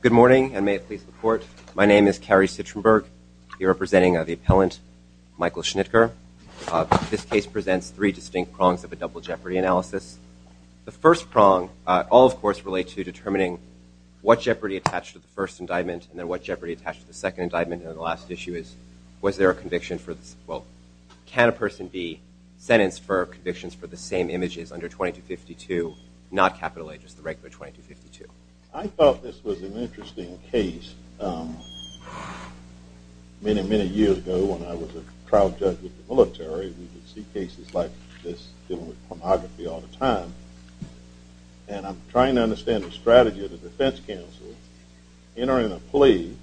Good morning and may it please report. My name is Cary Sitrenberg. You're representing the appellant Michael Schnittker. This case presents three distinct prongs of a double jeopardy analysis. The first prong all of course relate to determining what jeopardy attached to the first indictment and then what jeopardy attached to the second indictment and the last issue is was there a conviction for this well can a person be sentenced for convictions for the same images under 2252 not capital A just the regular 2252. I thought this was an interesting case. Many, many years ago when I was a trial judge with the military we would see cases like this dealing with pornography all the time and I'm trying to understand the strategy of the defense counsel entering a plea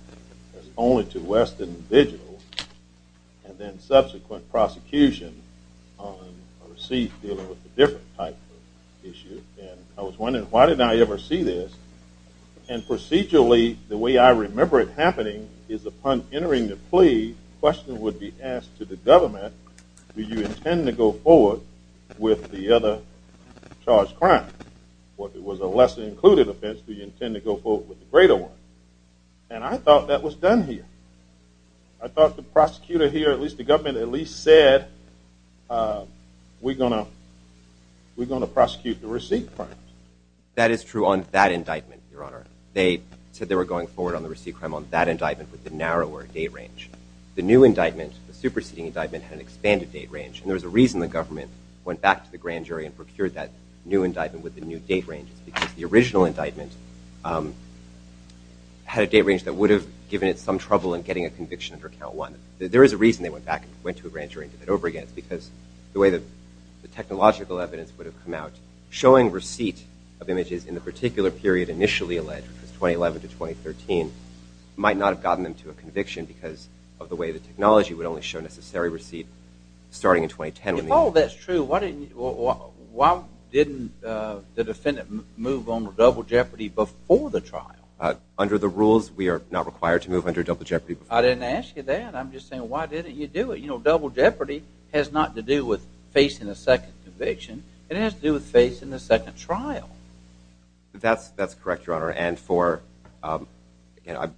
as only to Weston vigil and then subsequent prosecution on a receipt dealing with a type of issue and I was wondering why did I ever see this and procedurally the way I remember it happening is upon entering the plea question would be asked to the government do you intend to go forward with the other charged crime what it was a lesser included offense do you intend to go forward with the greater one and I thought that was done here. I thought the prosecutor here at least the we're going to prosecute the receipt crime. That is true on that indictment your honor they said they were going forward on the receipt crime on that indictment with the narrower date range the new indictment the superseding indictment had an expanded date range and there's a reason the government went back to the grand jury and procured that new indictment with the new date range because the original indictment had a date range that would have given it some trouble in getting a conviction under count one there is a reason they went back and went to a grand jury and did it over again because the way that the technological evidence would have come out showing receipt of images in the particular period initially alleged 2011 to 2013 might not have gotten them to a conviction because of the way the technology would only show necessary receipt starting in 2010. If all that's true why didn't the defendant move on double jeopardy before the trial? Under the rules we are not required to move under double jeopardy. I didn't ask you that I'm just saying why didn't you do it you know double jeopardy has not to do with facing a second conviction it has to do with facing the second trial. That's that's correct your honor and for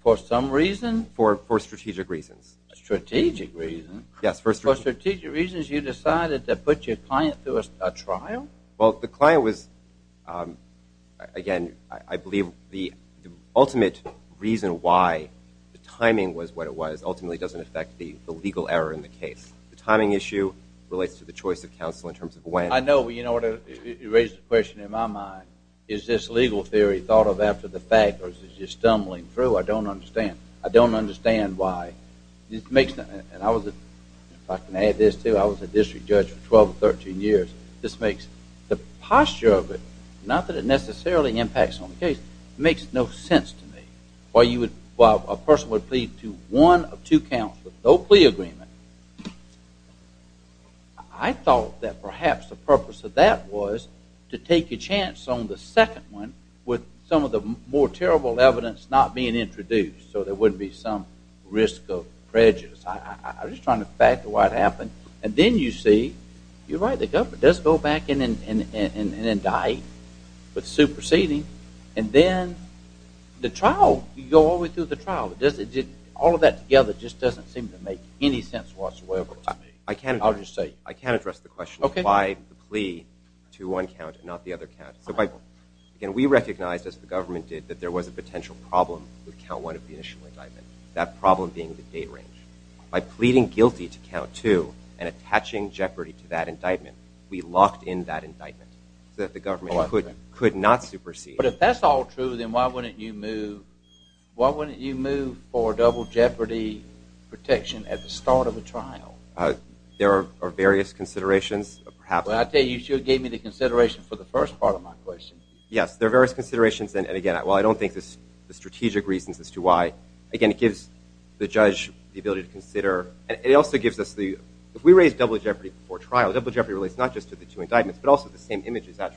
for some reason for for strategic reasons. Strategic reason? Yes for strategic reasons you decided to put your client through a trial? Well the client was again I believe the ultimate reason why the timing was what it was ultimately doesn't affect the legal error in the case. The timing issue relates to the choice of counsel in terms of when. I know you know it raised a question in my mind is this legal theory thought of after the fact or is it just stumbling through I don't understand. I don't understand why this makes that and I was if I can add this to I was a district judge for 12 or 13 years this makes the posture of it not that it necessarily impacts on the case makes no sense to me why you would well a person would plead to one of two counts with no plea agreement. I thought that perhaps the purpose of that was to take a chance on the second one with some of the more terrible evidence not being introduced so there wouldn't be some risk of prejudice. I was trying to factor what happened and then you see you're right the government does go back in and go all the way through the trial. All of that together just doesn't seem to make any sense whatsoever to me. I can't I'll just say I can't address the question of why the plea to one count and not the other count. Again we recognized as the government did that there was a potential problem with count one of the initial indictment that problem being the date range. By pleading guilty to count two and attaching jeopardy to that indictment we locked in that indictment so that the government could not supersede. But if that's all then why wouldn't you move why wouldn't you move for double jeopardy protection at the start of the trial? There are various considerations perhaps. Well I tell you sure gave me the consideration for the first part of my question. Yes there are various considerations and again well I don't think this the strategic reasons as to why again it gives the judge the ability to consider and it also gives us the if we raise double jeopardy before trial double jeopardy relates not just to the two indictments but also the same images at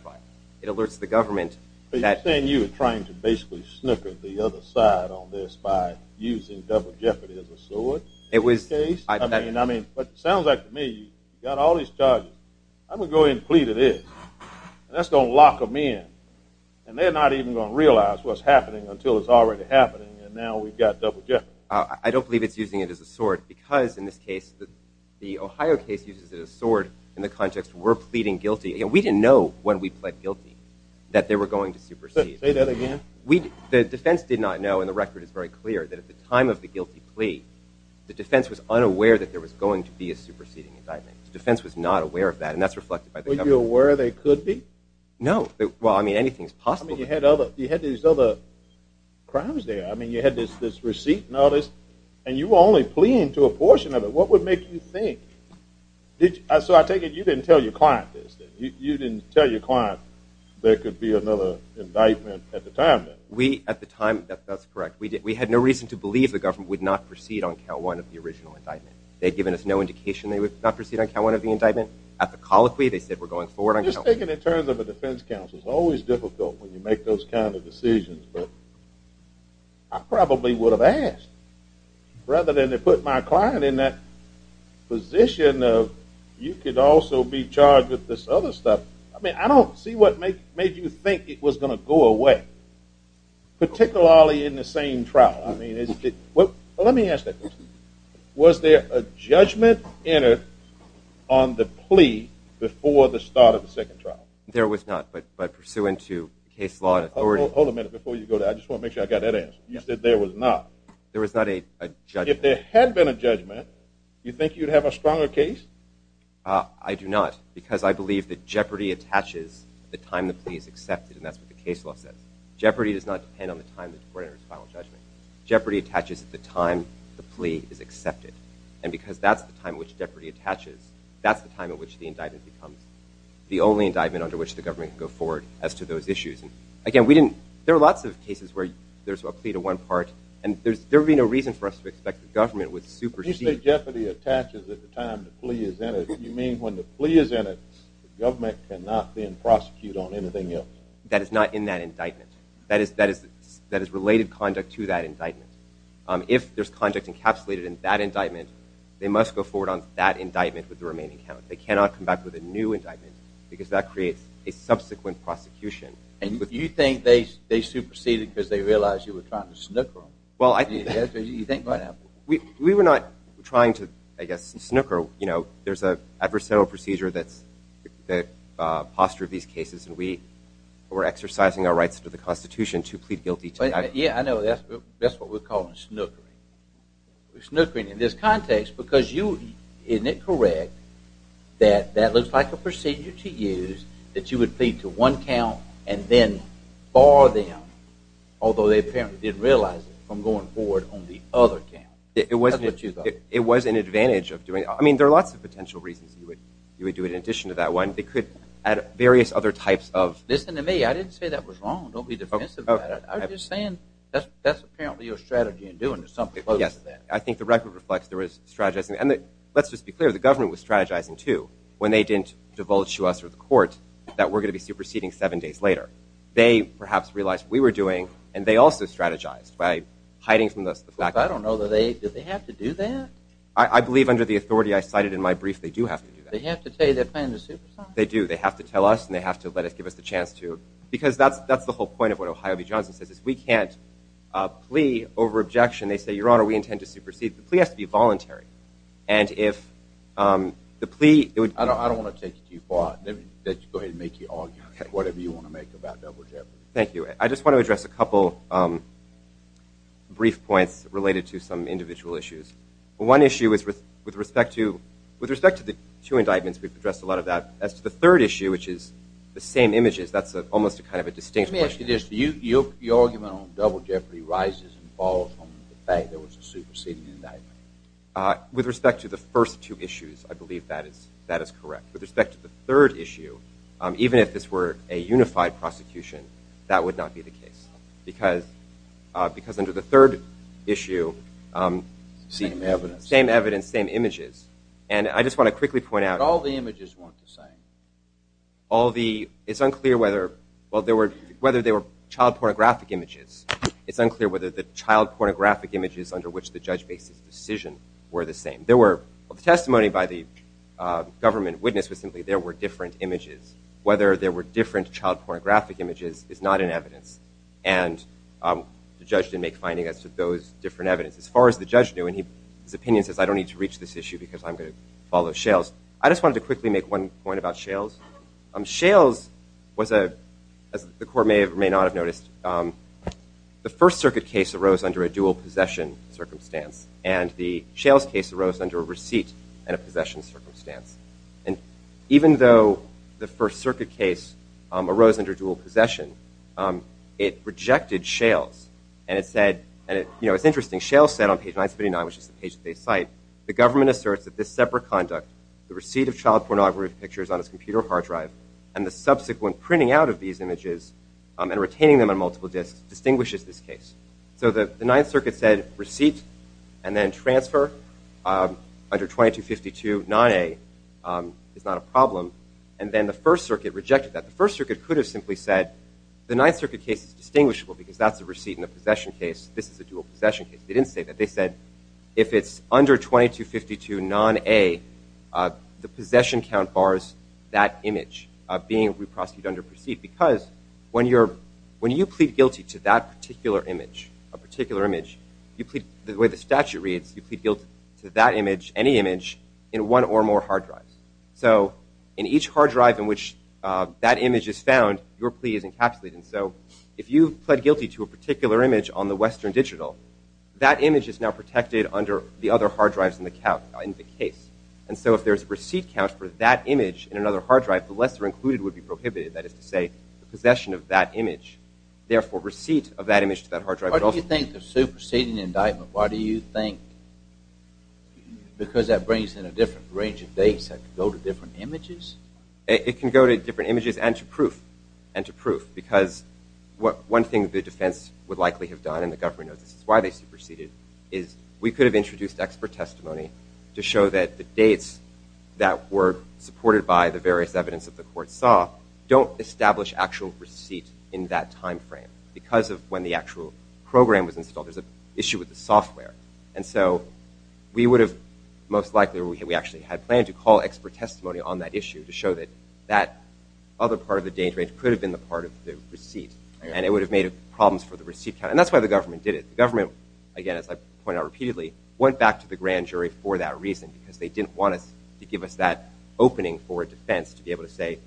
It alerts the government. Are you saying you were trying to basically snippet the other side on this by using double jeopardy as a sword? It was. I mean I mean but sounds like to me you got all these charges I'm gonna go ahead and plead it is. That's gonna lock them in and they're not even gonna realize what's happening until it's already happening and now we've got double jeopardy. I don't believe it's using it as a sword because in this case that the Ohio case uses it as a sword in the guilty that they were going to supersede. Say that again. We the defense did not know and the record is very clear that at the time of the guilty plea the defense was unaware that there was going to be a superseding indictment. The defense was not aware of that and that's reflected by the government. Were you aware they could be? No well I mean anything's possible. You had other you had these other crimes there I mean you had this this receipt notice and you were only pleading to a portion of it what would make you think did I so I take it you didn't tell your client this. You didn't tell your client there could be another indictment at the time. We at the time that's correct we did we had no reason to believe the government would not proceed on count one of the original indictment. They'd given us no indication they would not proceed on count one of the indictment. At the colloquy they said we're going forward. I just think it in terms of a defense counsel it's always difficult when you make those kind of decisions but I probably would have asked rather than to put my client in that position of you could also be charged with this other stuff. I mean I don't see what make made you think it was going to go away particularly in the same trial. I mean is it what let me ask that was there a judgment in it on the plea before the start of the second trial? There was not but but pursuant to case law and authority. Hold a minute before you go to I just want to make sure I got that answer. You said there was not. There was not a judgment. If there had been a I do not because I believe that jeopardy attaches the time the plea is accepted and that's what the case law says. Jeopardy does not depend on the time the court or its final judgment. Jeopardy attaches at the time the plea is accepted and because that's the time which jeopardy attaches that's the time in which the indictment becomes the only indictment under which the government go forward as to those issues and again we didn't there are lots of cases where there's a plea to one part and there's there'll be no reason for us to expect the government would supersede. You say jeopardy attaches at the time the plea is in it the government cannot then prosecute on anything else? That is not in that indictment. That is that is that is related conduct to that indictment. If there's conduct encapsulated in that indictment they must go forward on that indictment with the remaining count. They cannot come back with a new indictment because that creates a subsequent prosecution. And you think they superseded because they realized you were trying to snooker them? Well I think we were not trying to I guess snooker you know there's a adversarial procedure that's the posture of these cases and we were exercising our rights to the Constitution to plead guilty. Yeah I know that's what we're calling snookering. Snookering in this context because you isn't it correct that that looks like a procedure to use that you would plead to one count and then bar them although they it was an advantage of doing I mean there are lots of potential reasons you would you would do it in addition to that one they could add various other types of. Listen to me I didn't say that was wrong don't be defensive. I'm just saying that's that's apparently your strategy in doing something. Yes I think the record reflects there was strategizing and that let's just be clear the government was strategizing too when they didn't divulge to us or the court that we're going to be superseding seven days later. They perhaps realized we were doing and they also strategized by hiding from us. I don't know that they did they have to do that. I believe under the authority I cited in my brief they do have to do that. They have to tell you they're planning to supersede. They do they have to tell us and they have to let us give us the chance to because that's that's the whole point of what Ohio v. Johnson says is we can't plea over objection they say your honor we intend to supersede. The plea has to be voluntary and if the plea. I don't want to take it too far. Go ahead and make your argument whatever you want to make about double jeopardy. Thank you I just want to address a couple brief points related to some individual issues. One issue is with with respect to with respect to the two indictments we've addressed a lot of that as to the third issue which is the same images that's a almost a kind of a distinct question. Let me ask you this. Your argument on double jeopardy rises and falls on the fact there was a superseding indictment. With respect to the first two issues I believe that is that is correct. With respect to the third issue even if this were a unified prosecution that would not be the case because because under the third issue same evidence same evidence same images and I just want to quickly point out all the images weren't the same. All the it's unclear whether well there were whether they were child pornographic images. It's unclear whether the child pornographic images under which the judge makes his decision were the same. There were testimony by the government witness was simply there were different images. Whether there were different child pornographic images is not in evidence and the judge didn't make finding as to those different evidence. As far as the judge knew and he his opinion says I don't need to reach this issue because I'm going to follow Shales. I just wanted to quickly make one point about Shales. Shales was a as the court may have may not have noticed the First Circuit case arose under a dual possession circumstance and the Shales case arose under a receipt and a possession circumstance and even though the First Circuit case arose under dual possession it rejected Shales and it said and it you know it's interesting Shales said on page 979 which is the page they cite the government asserts that this separate conduct the receipt of child pornography pictures on his computer hard drive and the subsequent printing out of these images and retaining them on multiple disks distinguishes this case. So the Ninth Circuit case is not a problem and then the First Circuit rejected that. The First Circuit could have simply said the Ninth Circuit case is distinguishable because that's a receipt in a possession case this is a dual possession case. They didn't say that. They said if it's under 2252 non-A the possession count bars that image being re-prosecuted under proceed because when you're when you plead guilty to that particular image a particular image you plead the way the more hard drives so in each hard drive in which that image is found your plea is encapsulated so if you pled guilty to a particular image on the Western Digital that image is now protected under the other hard drives in the count in the case and so if there's a receipt count for that image in another hard drive the lesser included would be prohibited that is to say possession of that image therefore receipt of that image to that hard drive. Why do you think the superseding indictment why do you think because that brings in a different range of dates have to go to different images? It can go to different images and to proof and to proof because what one thing the defense would likely have done and the government knows this is why they superseded is we could have introduced expert testimony to show that the dates that were supported by the various evidence of the court saw don't establish actual receipt in that time frame because of when the actual program was installed there's a issue with the had planned to call expert testimony on that issue to show that that other part of the danger it could have been the part of the receipt and it would have made it problems for the receipt and that's why the government did it government again as I point out repeatedly went back to the grand jury for that reason because they didn't want us to give us that opening for defense to be able to say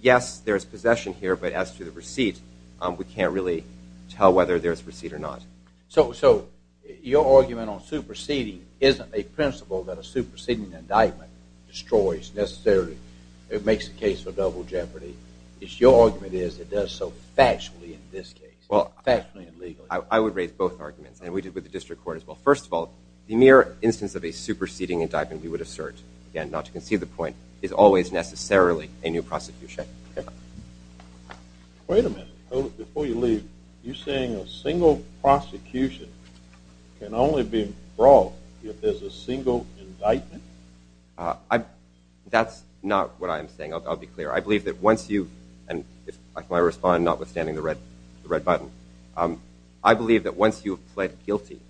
yes there's possession here but as to the receipt we can't really tell whether there's receipt or not. So your argument on superseding isn't a principle that a superseding indictment destroys necessarily it makes the case for double jeopardy it's your argument is it does so factually in this case well factually and legally. I would raise both arguments and we did with the district court as well first of all the mere instance of a superseding indictment we would assert and not to conceive the point is always necessarily a new prosecution. Wait a minute before you leave you saying a brawl if there's a single indictment? That's not what I'm saying I'll be clear I believe that once you and if I respond notwithstanding the red the red button I believe that once you have pled guilty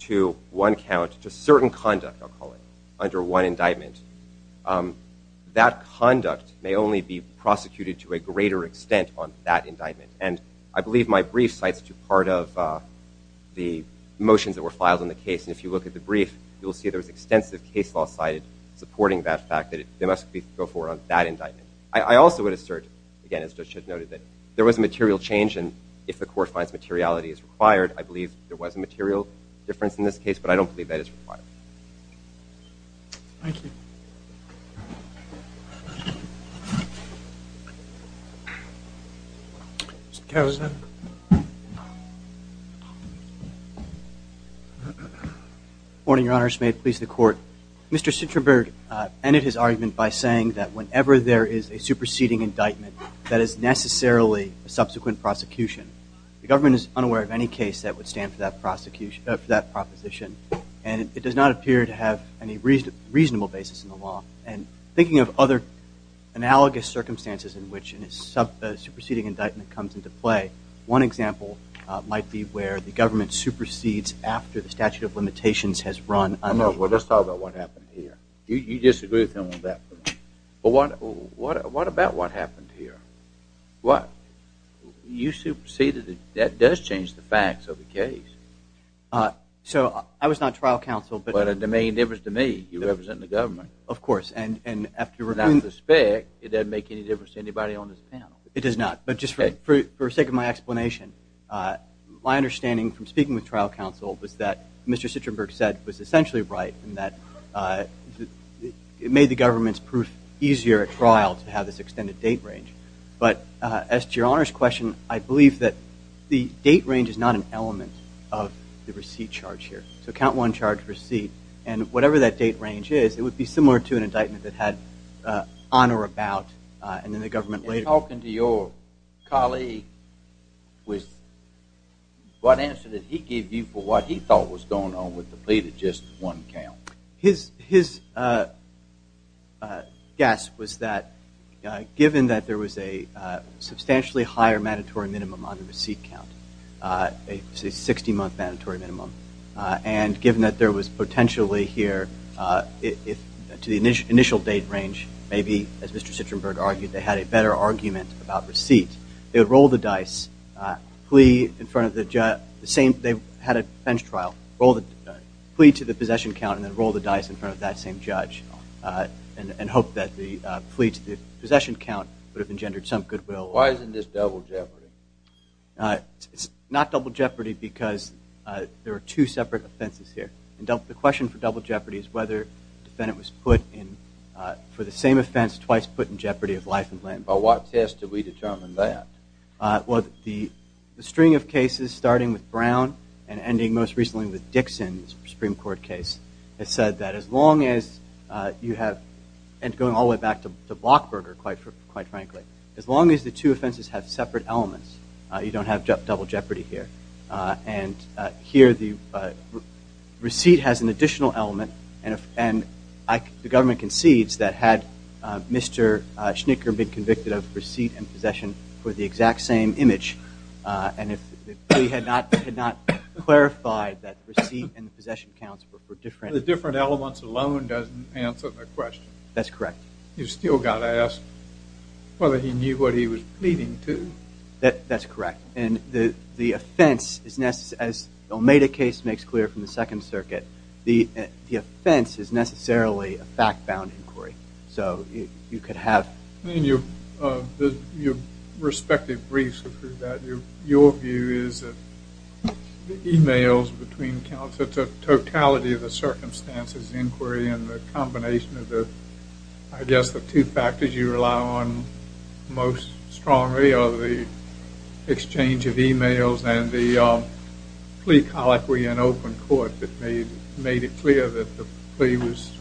to one count to certain conduct I'll call it under one indictment that conduct may only be prosecuted to a greater extent on that indictment and I believe my brief cites to part of the motions that were filed in the case and if you look at the brief you'll see there's extensive case law cited supporting that fact that it must be go forward on that indictment. I also would assert again as judge noted that there was a material change and if the court finds materiality is required I believe there was a material difference in this case but I don't believe that it's required. Thank you. Mr. Caruso. Good morning, your honors. May it please the court. Mr. Citraberg ended his argument by saying that whenever there is a superseding indictment that is necessarily a subsequent prosecution. The government is unaware of any case that would stand for that prosecution of that proposition and it does not appear to have any reason reasonable basis in the law and thinking of other analogous circumstances in which in his superseding indictment comes into play one example might be where the government supersedes after the statute of limitations has run. Well let's talk about what happened here. You disagree with him on that. What about what happened here? What? You superseded it. That does change the facts of the case. So I was not trial counsel. But the main difference to me you represent the government. Of course and and after that suspect it doesn't make any difference to anybody on this panel. It does not but just for the sake of my explanation my understanding from speaking with trial counsel was that Mr. Citraberg said was essentially right and that it made the government's proof easier at trial to have this extended date range but as to your honors question I believe that the date range is not an element of the receipt charge here. So count one charge receipt and whatever that date range is it would be similar to an indictment that had on or about and then the colleague was what answer did he give you for what he thought was going on with the plea to just one count? His his guess was that given that there was a substantially higher mandatory minimum on the receipt count a 60 month mandatory minimum and given that there was potentially here if to the initial initial date range maybe as Mr. Citraberg argued they had a better argument about receipt they would roll the dice plea in front of the same they had a bench trial roll the plea to the possession count and then roll the dice in front of that same judge and hope that the plea to the possession count would have engendered some goodwill. Why isn't this double jeopardy? It's not double jeopardy because there are two separate offenses here and the question for double jeopardy is whether defendant was put in for the same offense twice put in jeopardy of life and limb. But what test do we determine that? Well the string of cases starting with Brown and ending most recently with Dixon's Supreme Court case it said that as long as you have and going all the way back to the Blockberger quite frankly as long as the two offenses have separate elements you don't have double jeopardy here and here the receipt has an additional element and the government concedes that had Mr. Schnicker been convicted of receipt and possession for the exact same image and if he had not clarified that receipt and possession counts were different. The different elements alone doesn't answer the question. That's correct. You still got asked whether he knew what he was pleading to. That that's correct and the the offense is necessarily a fact-bound inquiry so you could have. I mean your respective briefs your view is that emails between counts it's a totality of the circumstances inquiry and the combination of the I guess the two factors you rely on most strongly are the exchange of emails and the plea clear that the plea was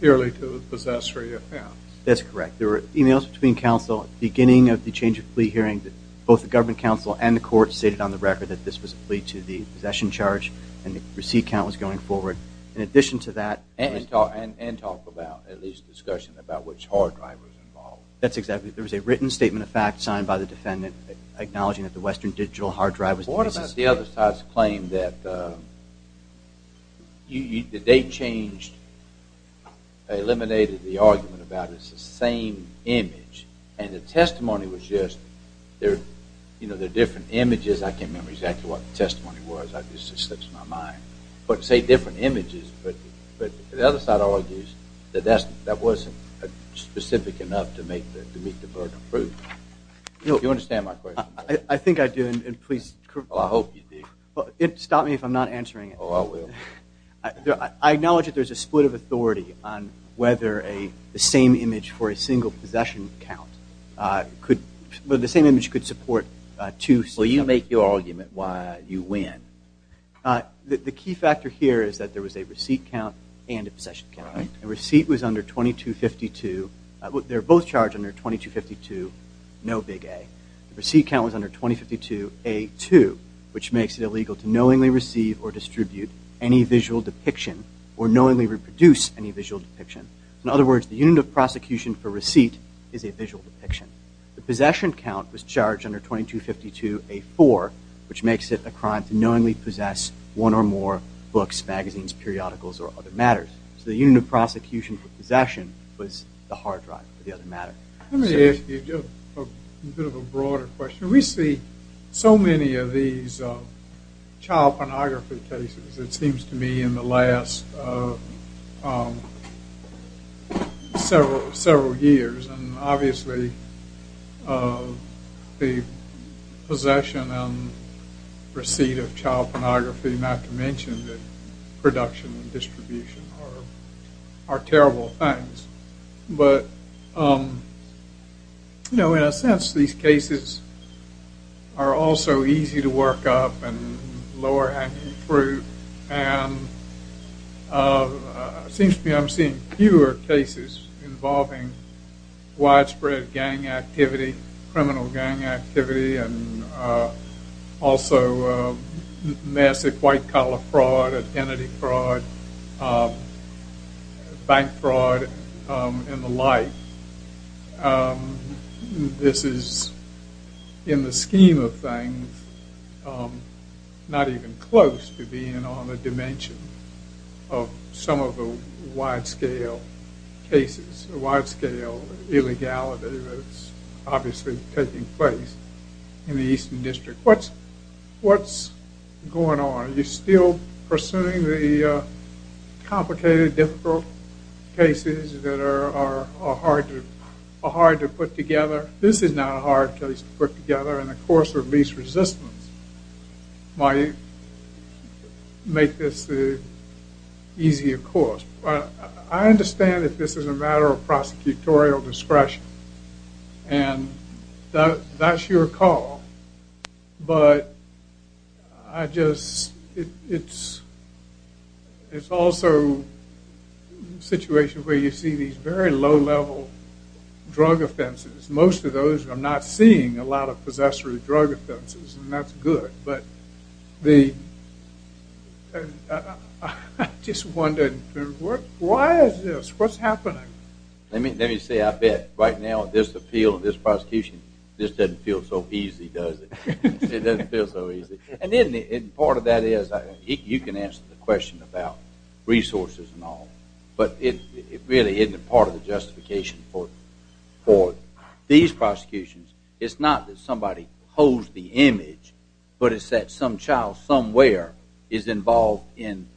purely to a possessory offense. That's correct. There were emails between counsel beginning of the change of plea hearing that both the government counsel and the court stated on the record that this was a plea to the possession charge and the receipt count was going forward. In addition to that. And talk about at least discussion about which hard drive was involved. That's exactly there was a written statement of fact signed by the defendant acknowledging that the Western Digital hard drive was. What about the other side's claim that you the date changed eliminated the argument about it's the same image and the testimony was just there you know they're different images I can't remember exactly what the testimony was I just slips my mind but say different images but the other side argues that that's that wasn't a specific enough to make that to meet the burden of proof. You understand my I think I do and please. I hope you do. Stop me if I'm not answering. Oh I will. I acknowledge that there's a split of authority on whether a the same image for a single possession count could but the same image could support two. Will you make your argument why you win? The key factor here is that there was a receipt count and a possession count. A receipt was under 2252. They're both charged under 2252 no big A. The receipt count was under 2052 A2 which makes it illegal to knowingly receive or distribute any visual depiction or knowingly reproduce any visual depiction. In other words the unit of prosecution for receipt is a visual depiction. The possession count was charged under 2252 A4 which makes it a crime to knowingly possess one or more books, magazines, periodicals, or other matters. So the unit of prosecution for possession was the matter. Let me ask you a bit of a broader question. We see so many of these child pornography cases it seems to me in the last several years and obviously the possession and receipt of child pornography not to mention that production and distribution are terrible things. But you know in a sense these cases are also easy to work up and lower hanging fruit and it seems to me I'm seeing fewer cases involving widespread gang activity, criminal gang activity, and also massive white-collar fraud, identity fraud, bank fraud, and the like. This is in the scheme of things not even close to being on the dimension of some of the wide-scale cases, wide-scale illegality that's obviously taking place in the United States. What's going on? Are you still pursuing the complicated difficult cases that are hard to put together? This is not a hard case to put together and of course release resistance might make this the easier course. I understand that this is a matter of I just it's it's also a situation where you see these very low-level drug offenses. Most of those are not seeing a lot of possessory drug offenses and that's good. But the I just wondered why is this? What's happening? I mean let me say I bet right now this appeal this prosecution this doesn't feel so easy does it? It doesn't feel so easy. And part of that is you can answer the question about resources and all but it really isn't part of the justification for these prosecutions. It's not that somebody holds the image but it's that some child somewhere is involved in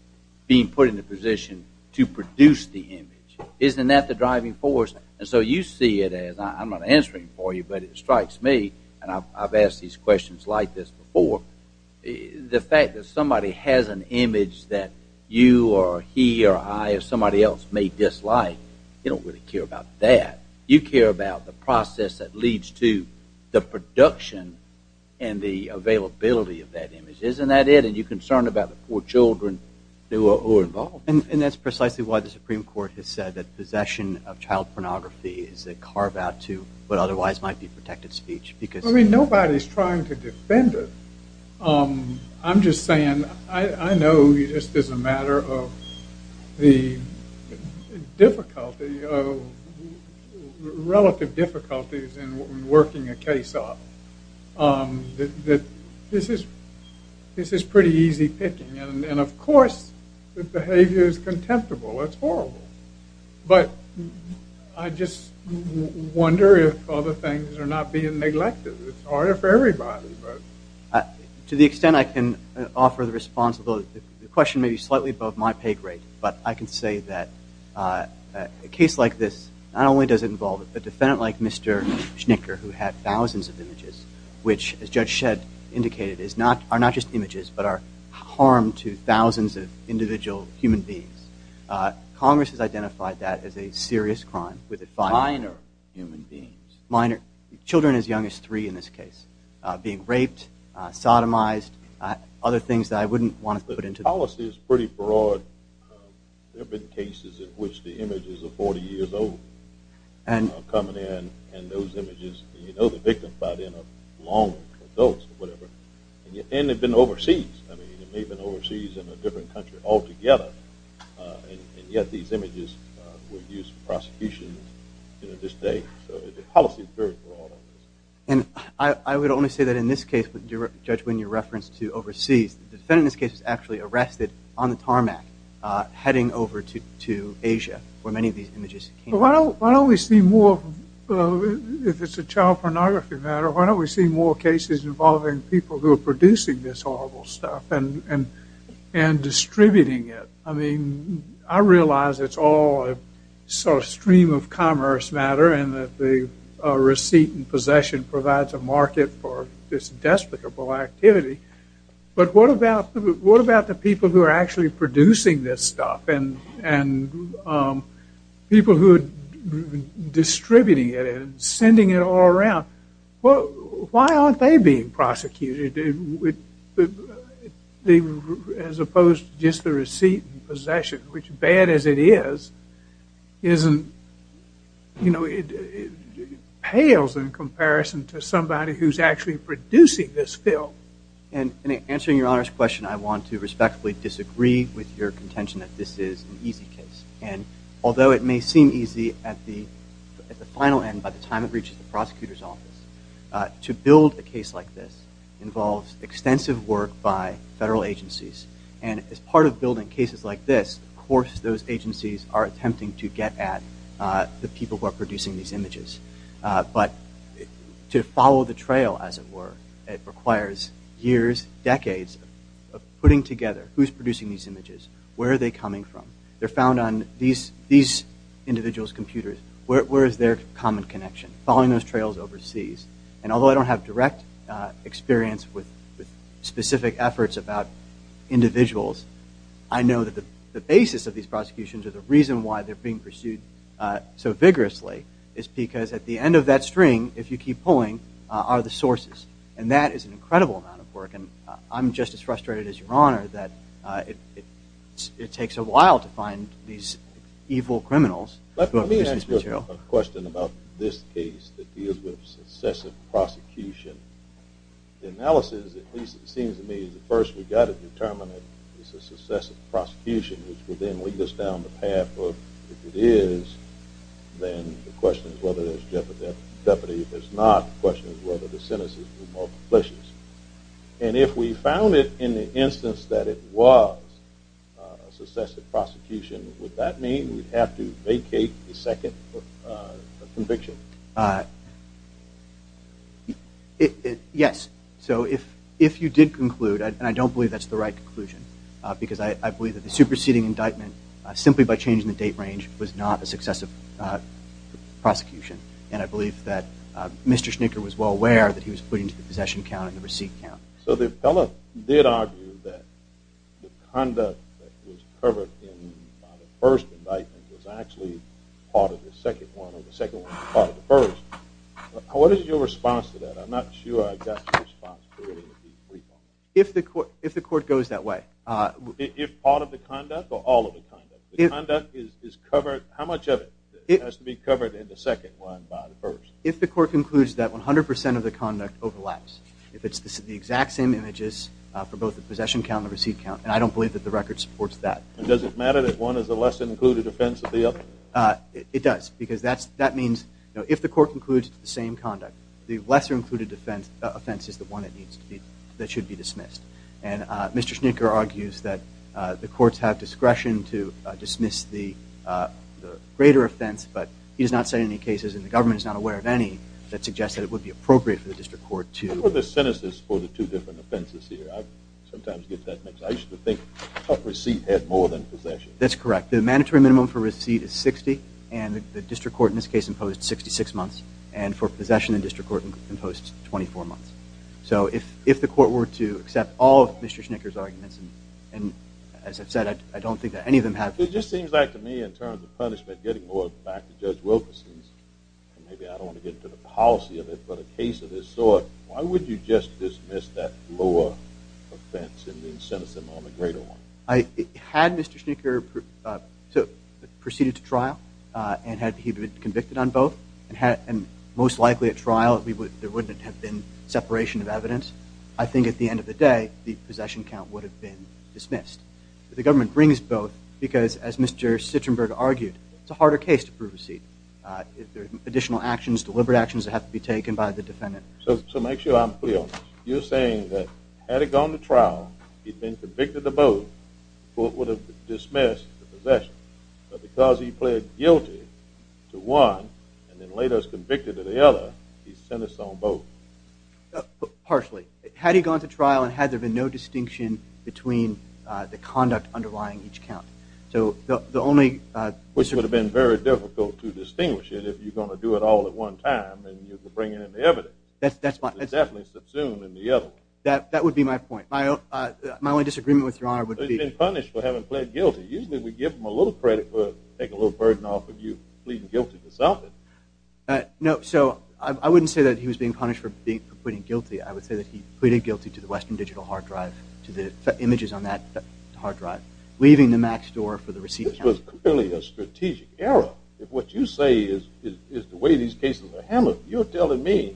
being put in a position to produce the image. Isn't that the driving force? And so you see it as I'm not answering for you but it strikes me and I've asked these questions like this before. The fact that somebody has an image that you or he or I or somebody else may dislike you don't really care about that. You care about the process that leads to the production and the availability of that image. Isn't that it? And you're concerned about the poor children who are involved. And that's precisely why the Supreme Court has said that possession of child pornography is a carve-out to what otherwise might be protected speech. Because I mean nobody's trying to defend it. I'm just saying I know you just as a matter of the difficulty of relative difficulties in working a case off that this is this is pretty easy picking and of course the behavior is contemptible. It's horrible. But I just wonder if other things are not being neglected. It's harder for everybody. To the extent I can offer the responsibility the question may be slightly above my pay grade but I can say that a case like this not only does it involve a defendant like Mr. Schnicker who had thousands of images which as Judge Shedd indicated is not are not just images but are harm to thousands of individual human beings. Congress has identified that as a serious crime with a finer human beings minor children as young as three in this case being raped, sodomized, other things that I wouldn't want to put into policy is pretty broad. There have been cases in which the images of 40 years old and coming in and those images you know the victim but in a long or whatever and they've been overseas. I mean they've and yet these images were used for prosecution in this day. So the policy is very broad. And I would only say that in this case, Judge Wynn, your reference to overseas the defendant in this case is actually arrested on the tarmac heading over to Asia where many of these images came from. Why don't we see more if it's a child pornography matter why don't we see more cases involving people who are producing this horrible stuff and and and distributing it. I mean I realize it's all a sort of stream of commerce matter and that the receipt and possession provides a market for this despicable activity but what about what about the people who are actually producing this stuff and and people who are distributing it and sending it all around. Well why aren't they being prosecuted as opposed to just the receipt and possession which bad as it is isn't you know it pales in comparison to somebody who's actually producing this film. And in answering your Honor's question I want to respectfully disagree with your contention that this is an easy case and although it may seem easy at the at the end by the time it reaches the prosecutor's office to build a case like this involves extensive work by federal agencies and as part of building cases like this of course those agencies are attempting to get at the people who are producing these images but to follow the trail as it were it requires years decades of putting together who's producing these images where are they coming from they're found on these these individuals computers where is their common connection following those trails overseas and although I don't have direct experience with specific efforts about individuals I know that the basis of these prosecutions are the reason why they're being pursued so vigorously is because at the end of that string if you keep pulling are the sources and that is an incredible amount of work and I'm just as frustrated as your Honor that it takes a while to find these evil criminals let me ask a question about this case that deals with successive prosecution analysis at least it seems to me the first we've got to determine it this is successive prosecution which will then lead us down the path of if it is then the question is whether there's jeopardy jeopardy if it's not question is whether the sentences were more successive prosecution would that mean we'd have to vacate the second conviction yes so if if you did conclude and I don't believe that's the right conclusion because I believe that the superseding indictment simply by changing the date range was not a successive prosecution and I believe that mr. Schnicker was well aware that he was putting to the possession count and the receipt count so the appellate did argue that the conduct was covered in first indictment was actually part of the second one or the second one part of the first what is your response to that I'm not sure I've got if the court if the court goes that way if part of the conduct or all of the conduct is covered how much of it it has to be covered in the second one first if the court concludes that 100% of the same images for both the possession count the receipt count and I don't believe that the record supports that does it matter that one is the less included offensively up it does because that's that means you know if the court includes the same conduct the lesser included defense offense is the one that needs to be that should be dismissed and mr. Schnicker argues that the courts have discretion to dismiss the greater offense but he does not say any cases in the government is not aware of any that suggests that it would be appropriate for the district court to the sentences for the two different offenses here I sometimes get that mix I used to think a receipt had more than possession that's correct the mandatory minimum for receipt is 60 and the district court in this case imposed 66 months and for possession and district court imposed 24 months so if if the court were to accept all of mr. Schnicker's arguments and as I've said I don't think that any of them have it just seems like to me in terms of punishment getting more back to judge Wilkerson's maybe I don't want to get to the policy of it but a case of this sort why would you just dismiss that lower offense in the incentive on the greater one I had mr. Schnicker took proceeded to trial and had he been convicted on both and had and most likely at trial if we would there wouldn't have been separation of evidence I think at the end of the day the possession count would have been dismissed the government brings both because as mr. Citron Berg argued it's a actions deliberate actions that have to be taken by the defendant so to make sure I'm clear you're saying that had it gone to trial he'd been convicted of both what would have dismissed the possession but because he pled guilty to one and then laid us convicted to the other he sent us on both partially had he gone to trial and had there been no distinction between the conduct underlying each count so the only which would have been very difficult to at all at one time and you could bring it in the evidence that's that's my definitely subsumed in the other that that would be my point my my only disagreement with your honor would be punished for having pled guilty usually we give them a little credit for take a little burden off of you pleading guilty to something no so I wouldn't say that he was being punished for being pleading guilty I would say that he pleaded guilty to the Western Digital hard drive to the images on that hard drive leaving the max door for the these cases a hammer you're telling me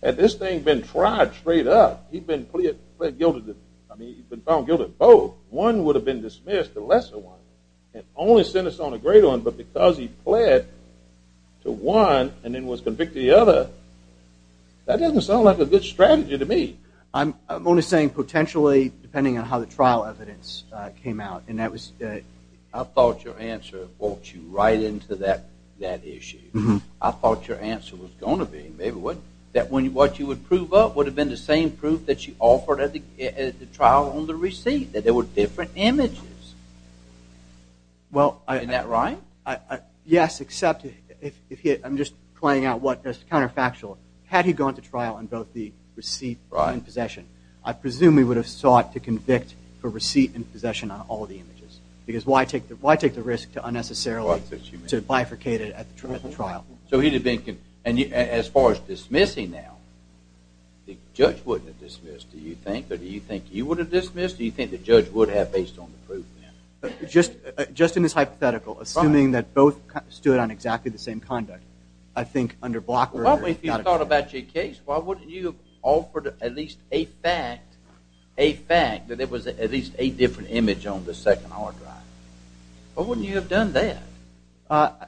that this thing been tried straight up he'd been pleaded guilty to both one would have been dismissed the lesser one and only sent us on a great one but because he pled to one and then was convicted the other that doesn't sound like a good strategy to me I'm only saying potentially depending on how the trial evidence came out and that was I thought your answer brought you right into that that issue mm-hmm I thought your answer was gonna be maybe what that when you what you would prove up would have been the same proof that she offered at the trial on the receipt that there were different images well I am that right I yes except if I'm just playing out what this counterfactual had he gone to trial and both the receipt right in possession I presume we would have sought to convict for receipt and because why take the why take the risk to unnecessarily to bifurcated at the trial so he'd have been and you as far as dismissing now the judge wouldn't dismiss do you think or do you think you would have dismissed do you think the judge would have based on the proof just just in this hypothetical assuming that both stood on exactly the same conduct I think under blocker thought about your case why wouldn't you offer at least a fact a fact that it was at least a image on the second hard drive but wouldn't you have done that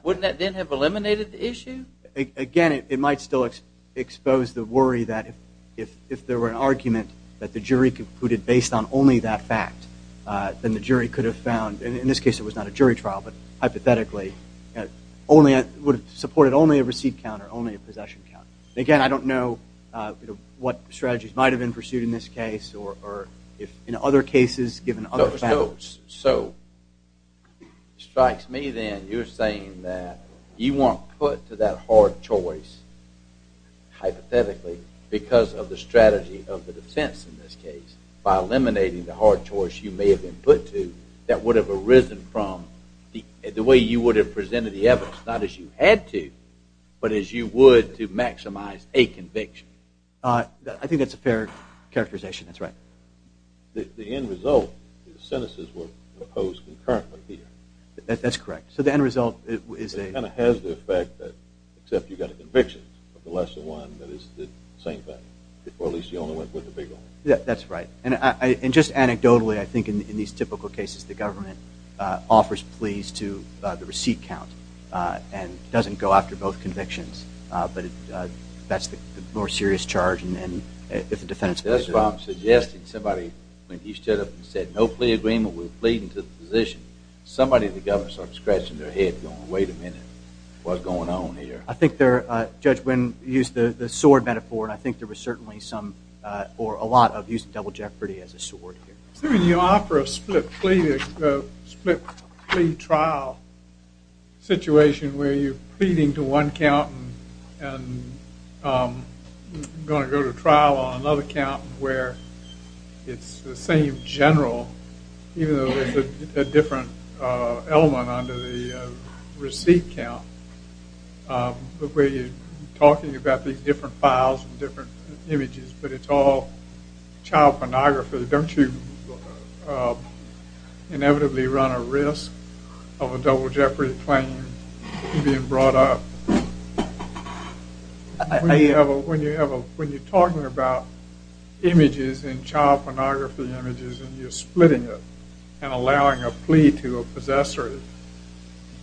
wouldn't that then have eliminated the issue again it might still expose the worry that if if there were an argument that the jury could put it based on only that fact then the jury could have found in this case it was not a jury trial but hypothetically only I would have supported only a receipt counter only a possession count again I don't know what strategies might have been pursued in this case or if in other cases given other so strikes me then you're saying that you want put to that hard choice hypothetically because of the strategy of the defense in this case by eliminating the hard choice you may have been put to that would have arisen from the way you would have presented the evidence not as you had to but as you would to maximize a conviction I think that's a fair characterization that's right the end result sentences were opposed concurrently here that's correct so the end result is a kind of has the effect that except you got a conviction of the lesser one that is the same thing before at least you only went with the big one yeah that's right and I and just anecdotally I think in these typical cases the government offers pleas to the receipt count and doesn't go after both convictions but that's the more serious charge and if the defense that's why I'm suggesting somebody when he stood up and said no plea agreement with pleading to the position somebody the government starts scratching their head going wait a minute what's going on here I think they're judge when used the sword metaphor and I think there was certainly some or a lot of use of double jeopardy as a sword you offer a split split plea trial situation where you pleading to one count and going to go to trial on another count where it's the same general even though there's a different element under the receipt count but where you talking about these different files and different images but it's all child pornography don't you inevitably run a risk of a double jeopardy claim being brought up I have a when you have a when you're talking about images in child pornography images and you're splitting it and allowing a plea to a possessor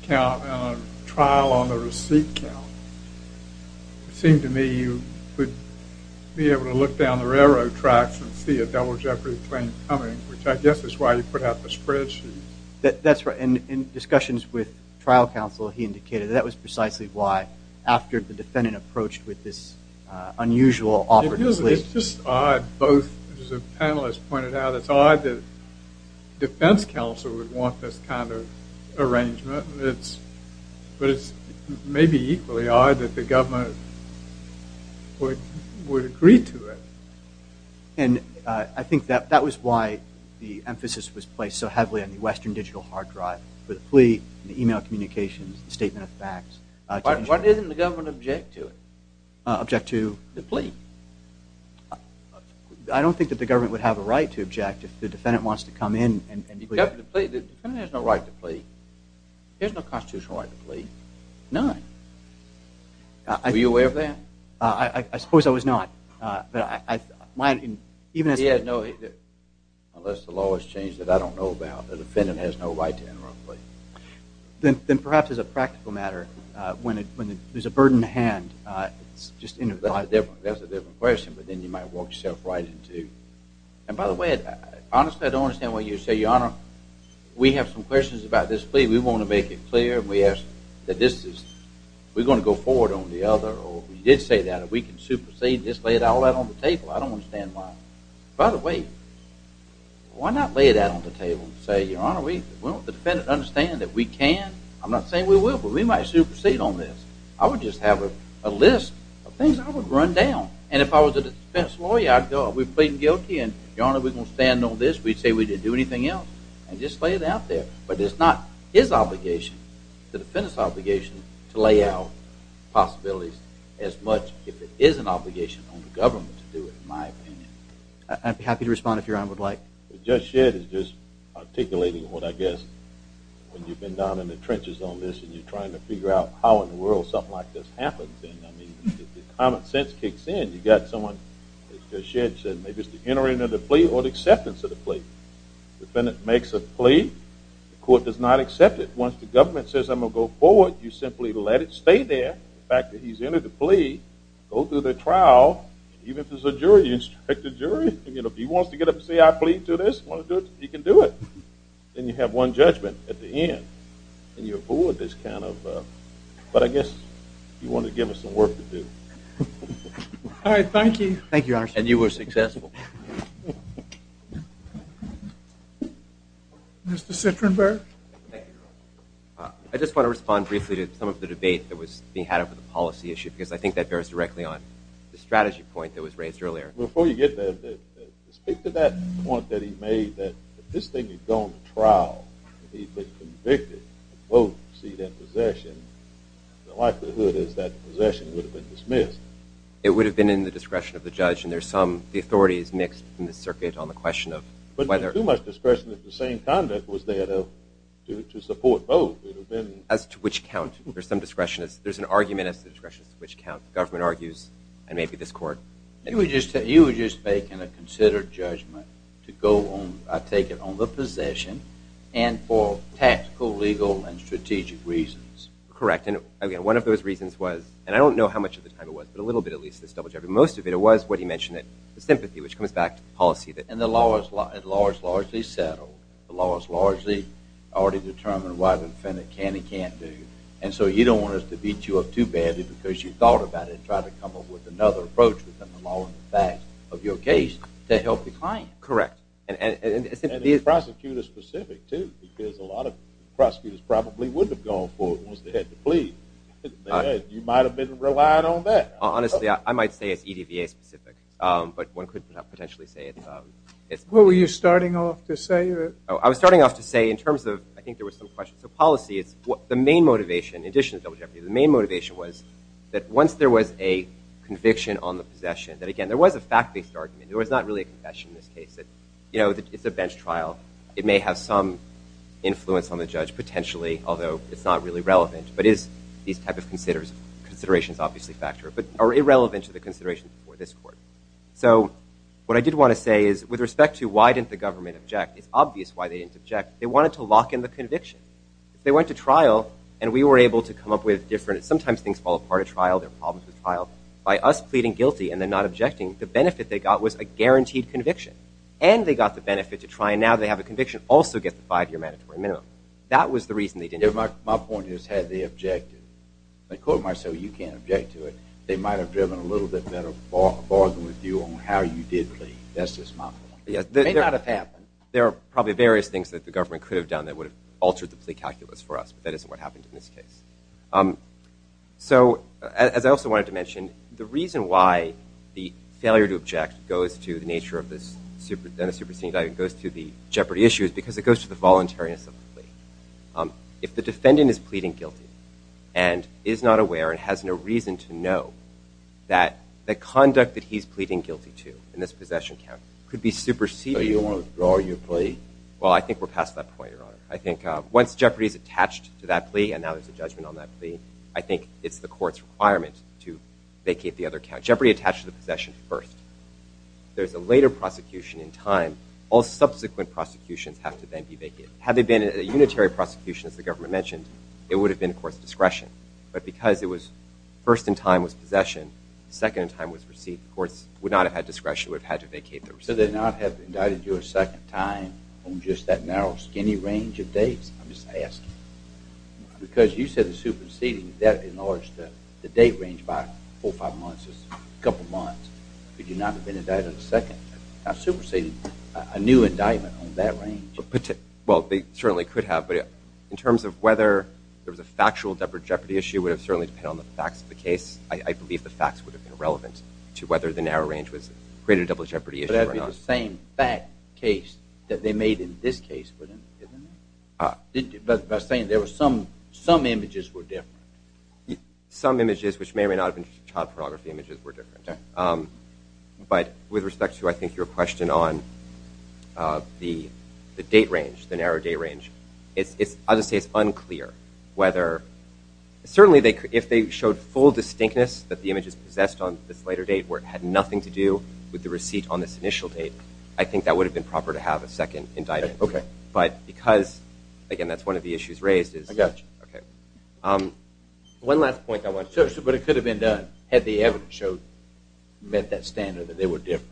count trial on the receipt count seemed to me you would be able to look down the railroad tracks and see a double jeopardy claim coming which I guess is why you put out the spreadsheet that that's right and in discussions with trial counsel he indicated that was precisely why after the defendant approached with this unusual awkwardness it's just odd both as a panelist pointed out it's odd that defense counsel would want this kind of arrangement it's but it's maybe equally odd that the government would would agree to it and I think that that was why the emphasis was placed so heavily on the Western digital hard drive for the plea the email communications statement of facts what isn't the government object to it object to the plea I don't think that the government would have a right to object if the defendant wants to come in there's no right to plea there's no constitutional right to plea none I were you aware of that I suppose I was not but I might even as he had no unless the law has changed that I don't know about the defendant has no right to enter a plea then then perhaps as a practical matter when it when there's a burden to hand it's just in a different that's a different question but then you might walk yourself right into and by the way honestly I don't understand what you say your honor we have some questions about this plea we want to make it clear we ask that this is we're going to go forward on the other or we did say that if we can supersede this lay it out all that on the table I don't understand why by the way why not lay it out on the table say your honor we will the defendant understand that we can I'm not saying we will but we might supersede on this I would just have a list of things I would run down and if I was a defense lawyer I'd go we're pleading guilty and your honor we gonna stand on this we'd say we didn't do anything else and just lay it out there but it's not his obligation the defendant's obligation to lay out possibilities as much if it is an obligation on the government to do it in my opinion. I'd be happy to respond if your honor would like. Judge Shedd is just articulating what I guess when you've been down in the trenches on this and you're trying to figure out how in the world something like this happens and I mean the common sense kicks in you got someone Judge Shedd said maybe it's the entering of the plea or the acceptance of the defendant makes a plea the court does not accept it once the government says I'm gonna go forward you simply let it stay there the fact that he's entered the plea go through the trial even if there's a jury you expect a jury you know if he wants to get up and say I plead to this you can do it then you have one judgment at the end and your board this kind of but I guess you want to give us some work to do. All right thank you. Thank you and you were successful. Mr. Sitrenberg. I just want to respond briefly to some of the debate that was being had over the policy issue because I think that bears directly on the strategy point that was raised earlier. Before you get there speak to that point that he made that if this thing had gone to trial and he'd been convicted and both proceed in possession the likelihood is that possession would have been dismissed. It would have been in the discretion of the judge and there's some the authorities mixed in the circuit on the question of whether too much discretion that the same conduct was there though to support both. As to which count there's some discretion is there's an argument as to the discretion of which count the government argues and maybe this court. You were just making a considered judgment to go on I take it on the possession and for tactical legal and strategic reasons. Correct and again one of those reasons was and I don't know how much of the time it was but a little bit at least most of it it was what he mentioned it the sympathy which comes back to the policy. And the law is largely settled. The law is largely already determined why the defendant can and can't do and so you don't want us to beat you up too badly because you thought about it try to come up with another approach within the law and the facts of your case to help the client. Correct. And the prosecutor specific too because a lot of prosecutors probably wouldn't have gone for it once they had to plead. You might have been relied on that. Honestly I might say it's EDVA specific but one could potentially say it's. What were you starting off to say? I was starting off to say in terms of I think there was some questions of policy it's what the main motivation in addition to double jeopardy the main motivation was that once there was a conviction on the possession that again there was a fact-based argument it was not really a confession in this case that you know that it's a bench trial it may have some influence on the judge potentially although it's not really relevant but is these type of considers considerations obviously factor but are irrelevant to the consideration for this court so what I did want to say is with respect to why didn't the government object it's obvious why they didn't object they wanted to lock in the conviction if they went to trial and we were able to come up with different sometimes things fall apart a trial their problems with trial by us pleading guilty and they're not objecting the benefit they got was a guaranteed conviction and they got the benefit to try and now they have a conviction also get the five-year mandatory minimum that was the reason they did it my point is had the objective they quote myself you can't to it they might have driven a little bit better bargain with you on how you did plea that's just my yes there are probably various things that the government could have done that would have altered the plea calculus for us but that isn't what happened in this case so as I also wanted to mention the reason why the failure to object goes to the nature of this super than a superseding diet goes to the jeopardy issues because it goes to the voluntariness of if the defendant is pleading guilty and is not aware and has no reason to know that the conduct that he's pleading guilty to in this possession count could be superseded you want to draw your plea well I think we're past that point your honor I think once jeopardy is attached to that plea and now there's a judgment on that plea I think it's the courts requirement to vacate the other count jeopardy attached to the possession first there's a later prosecution in time all subsequent prosecutions have to then be vacated have they been a unitary prosecution as the government mentioned it would have been of course discretion but because it was first in time was possession second time was received of course would not have had discretion would have had to vacate there so they're not have indicted you a second time I'm just that narrow skinny range of dates I'm just asking because you said the superseding that in order to the date range by four or five months a couple months could you not have been indicted a second time superseding a new indictment on that range well they certainly could have but in terms of whether there was a factual double jeopardy issue would have certainly depend on the facts of the case I believe the facts would have been relevant to whether the narrow range was created a double jeopardy same back case that they made in this case but by saying there was some some images were different some images which may or may not have been child pornography images were different but with respect to I think your question on the date range the narrow day range it's other states unclear whether certainly they if they showed full distinctness that the image is possessed on this later date where it had nothing to do with the receipt on this initial date I think that would have been proper to have a second indictment okay but because again that's one of the issues raised is okay one last point I want to but it could have been done had the evidence showed met that standard that they were different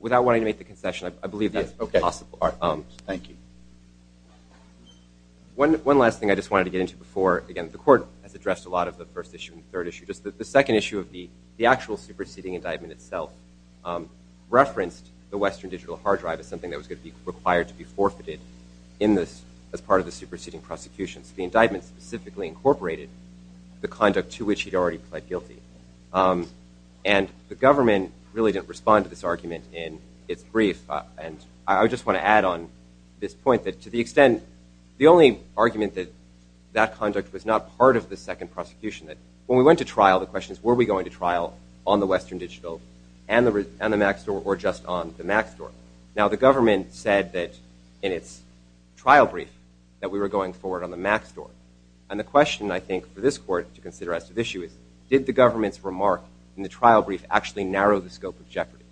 without wanting to make the concession I believe yes okay awesome thank you one one last thing I just wanted to get into before again the court has addressed a lot of the first issue and third issue just the second issue of the the actual superseding indictment itself referenced the Western digital hard drive is something that was going to be required to be forfeited in this as part of the superseding prosecutions the indictment specifically incorporated the conduct to which he'd already pled guilty and the government really didn't respond to the argument in its brief and I just want to add on this point that to the extent the only argument that that conduct was not part of the second prosecution that when we went to trial the questions were we going to trial on the Western digital and the and the Mac store or just on the Mac store now the government said that in its trial brief that we were going forward on the Mac store and the question I think for this court to consider as to the issue is did the government's remark in the trial brief actually narrow the scope of jeopardy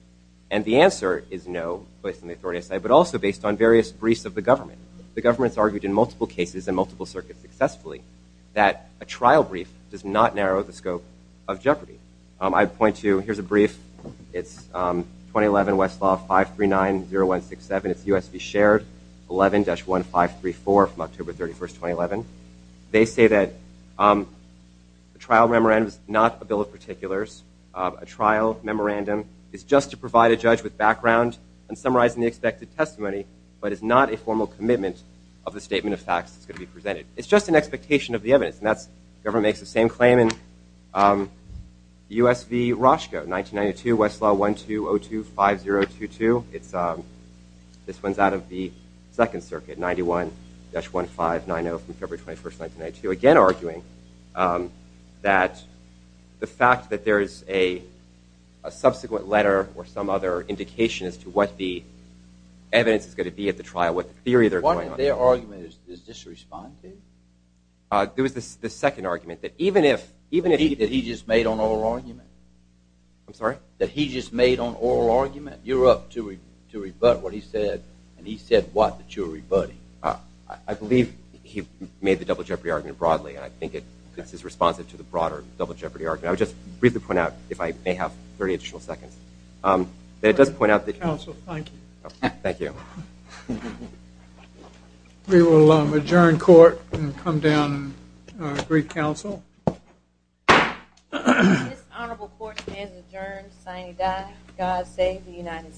and the answer is no but in the authority side but also based on various briefs of the government the government's argued in multiple cases and multiple circuits successfully that a trial brief does not narrow the scope of jeopardy I'd point to here's a brief it's 2011 Westlaw 5 3 9 0 1 6 7 it's USB shared 11-1 5 3 4 from October 31st 2011 they say that the trial memorandum is not a bill of articulars a trial memorandum is just to provide a judge with background and summarizing the expected testimony but it's not a formal commitment of the statement of facts it's going to be presented it's just an expectation of the evidence and that's government makes the same claim in usv Roscoe 1992 Westlaw 12025022 it's a this one's out of the Second Circuit 91-1 5 9 0 from there's a subsequent letter or some other indication as to what the evidence is going to be at the trial what the theory they're arguing there was this the second argument that even if even if he did he just made on oral argument I'm sorry that he just made on oral argument you're up to it to rebut what he said and he said what the jury buddy I believe he made the double jeopardy argument broadly I think it is responsive to the broader double jeopardy argument I would just briefly point out if I may have 30 additional seconds that it doesn't point out the council thank you thank you we will adjourn court and come down brief counsel God save the United States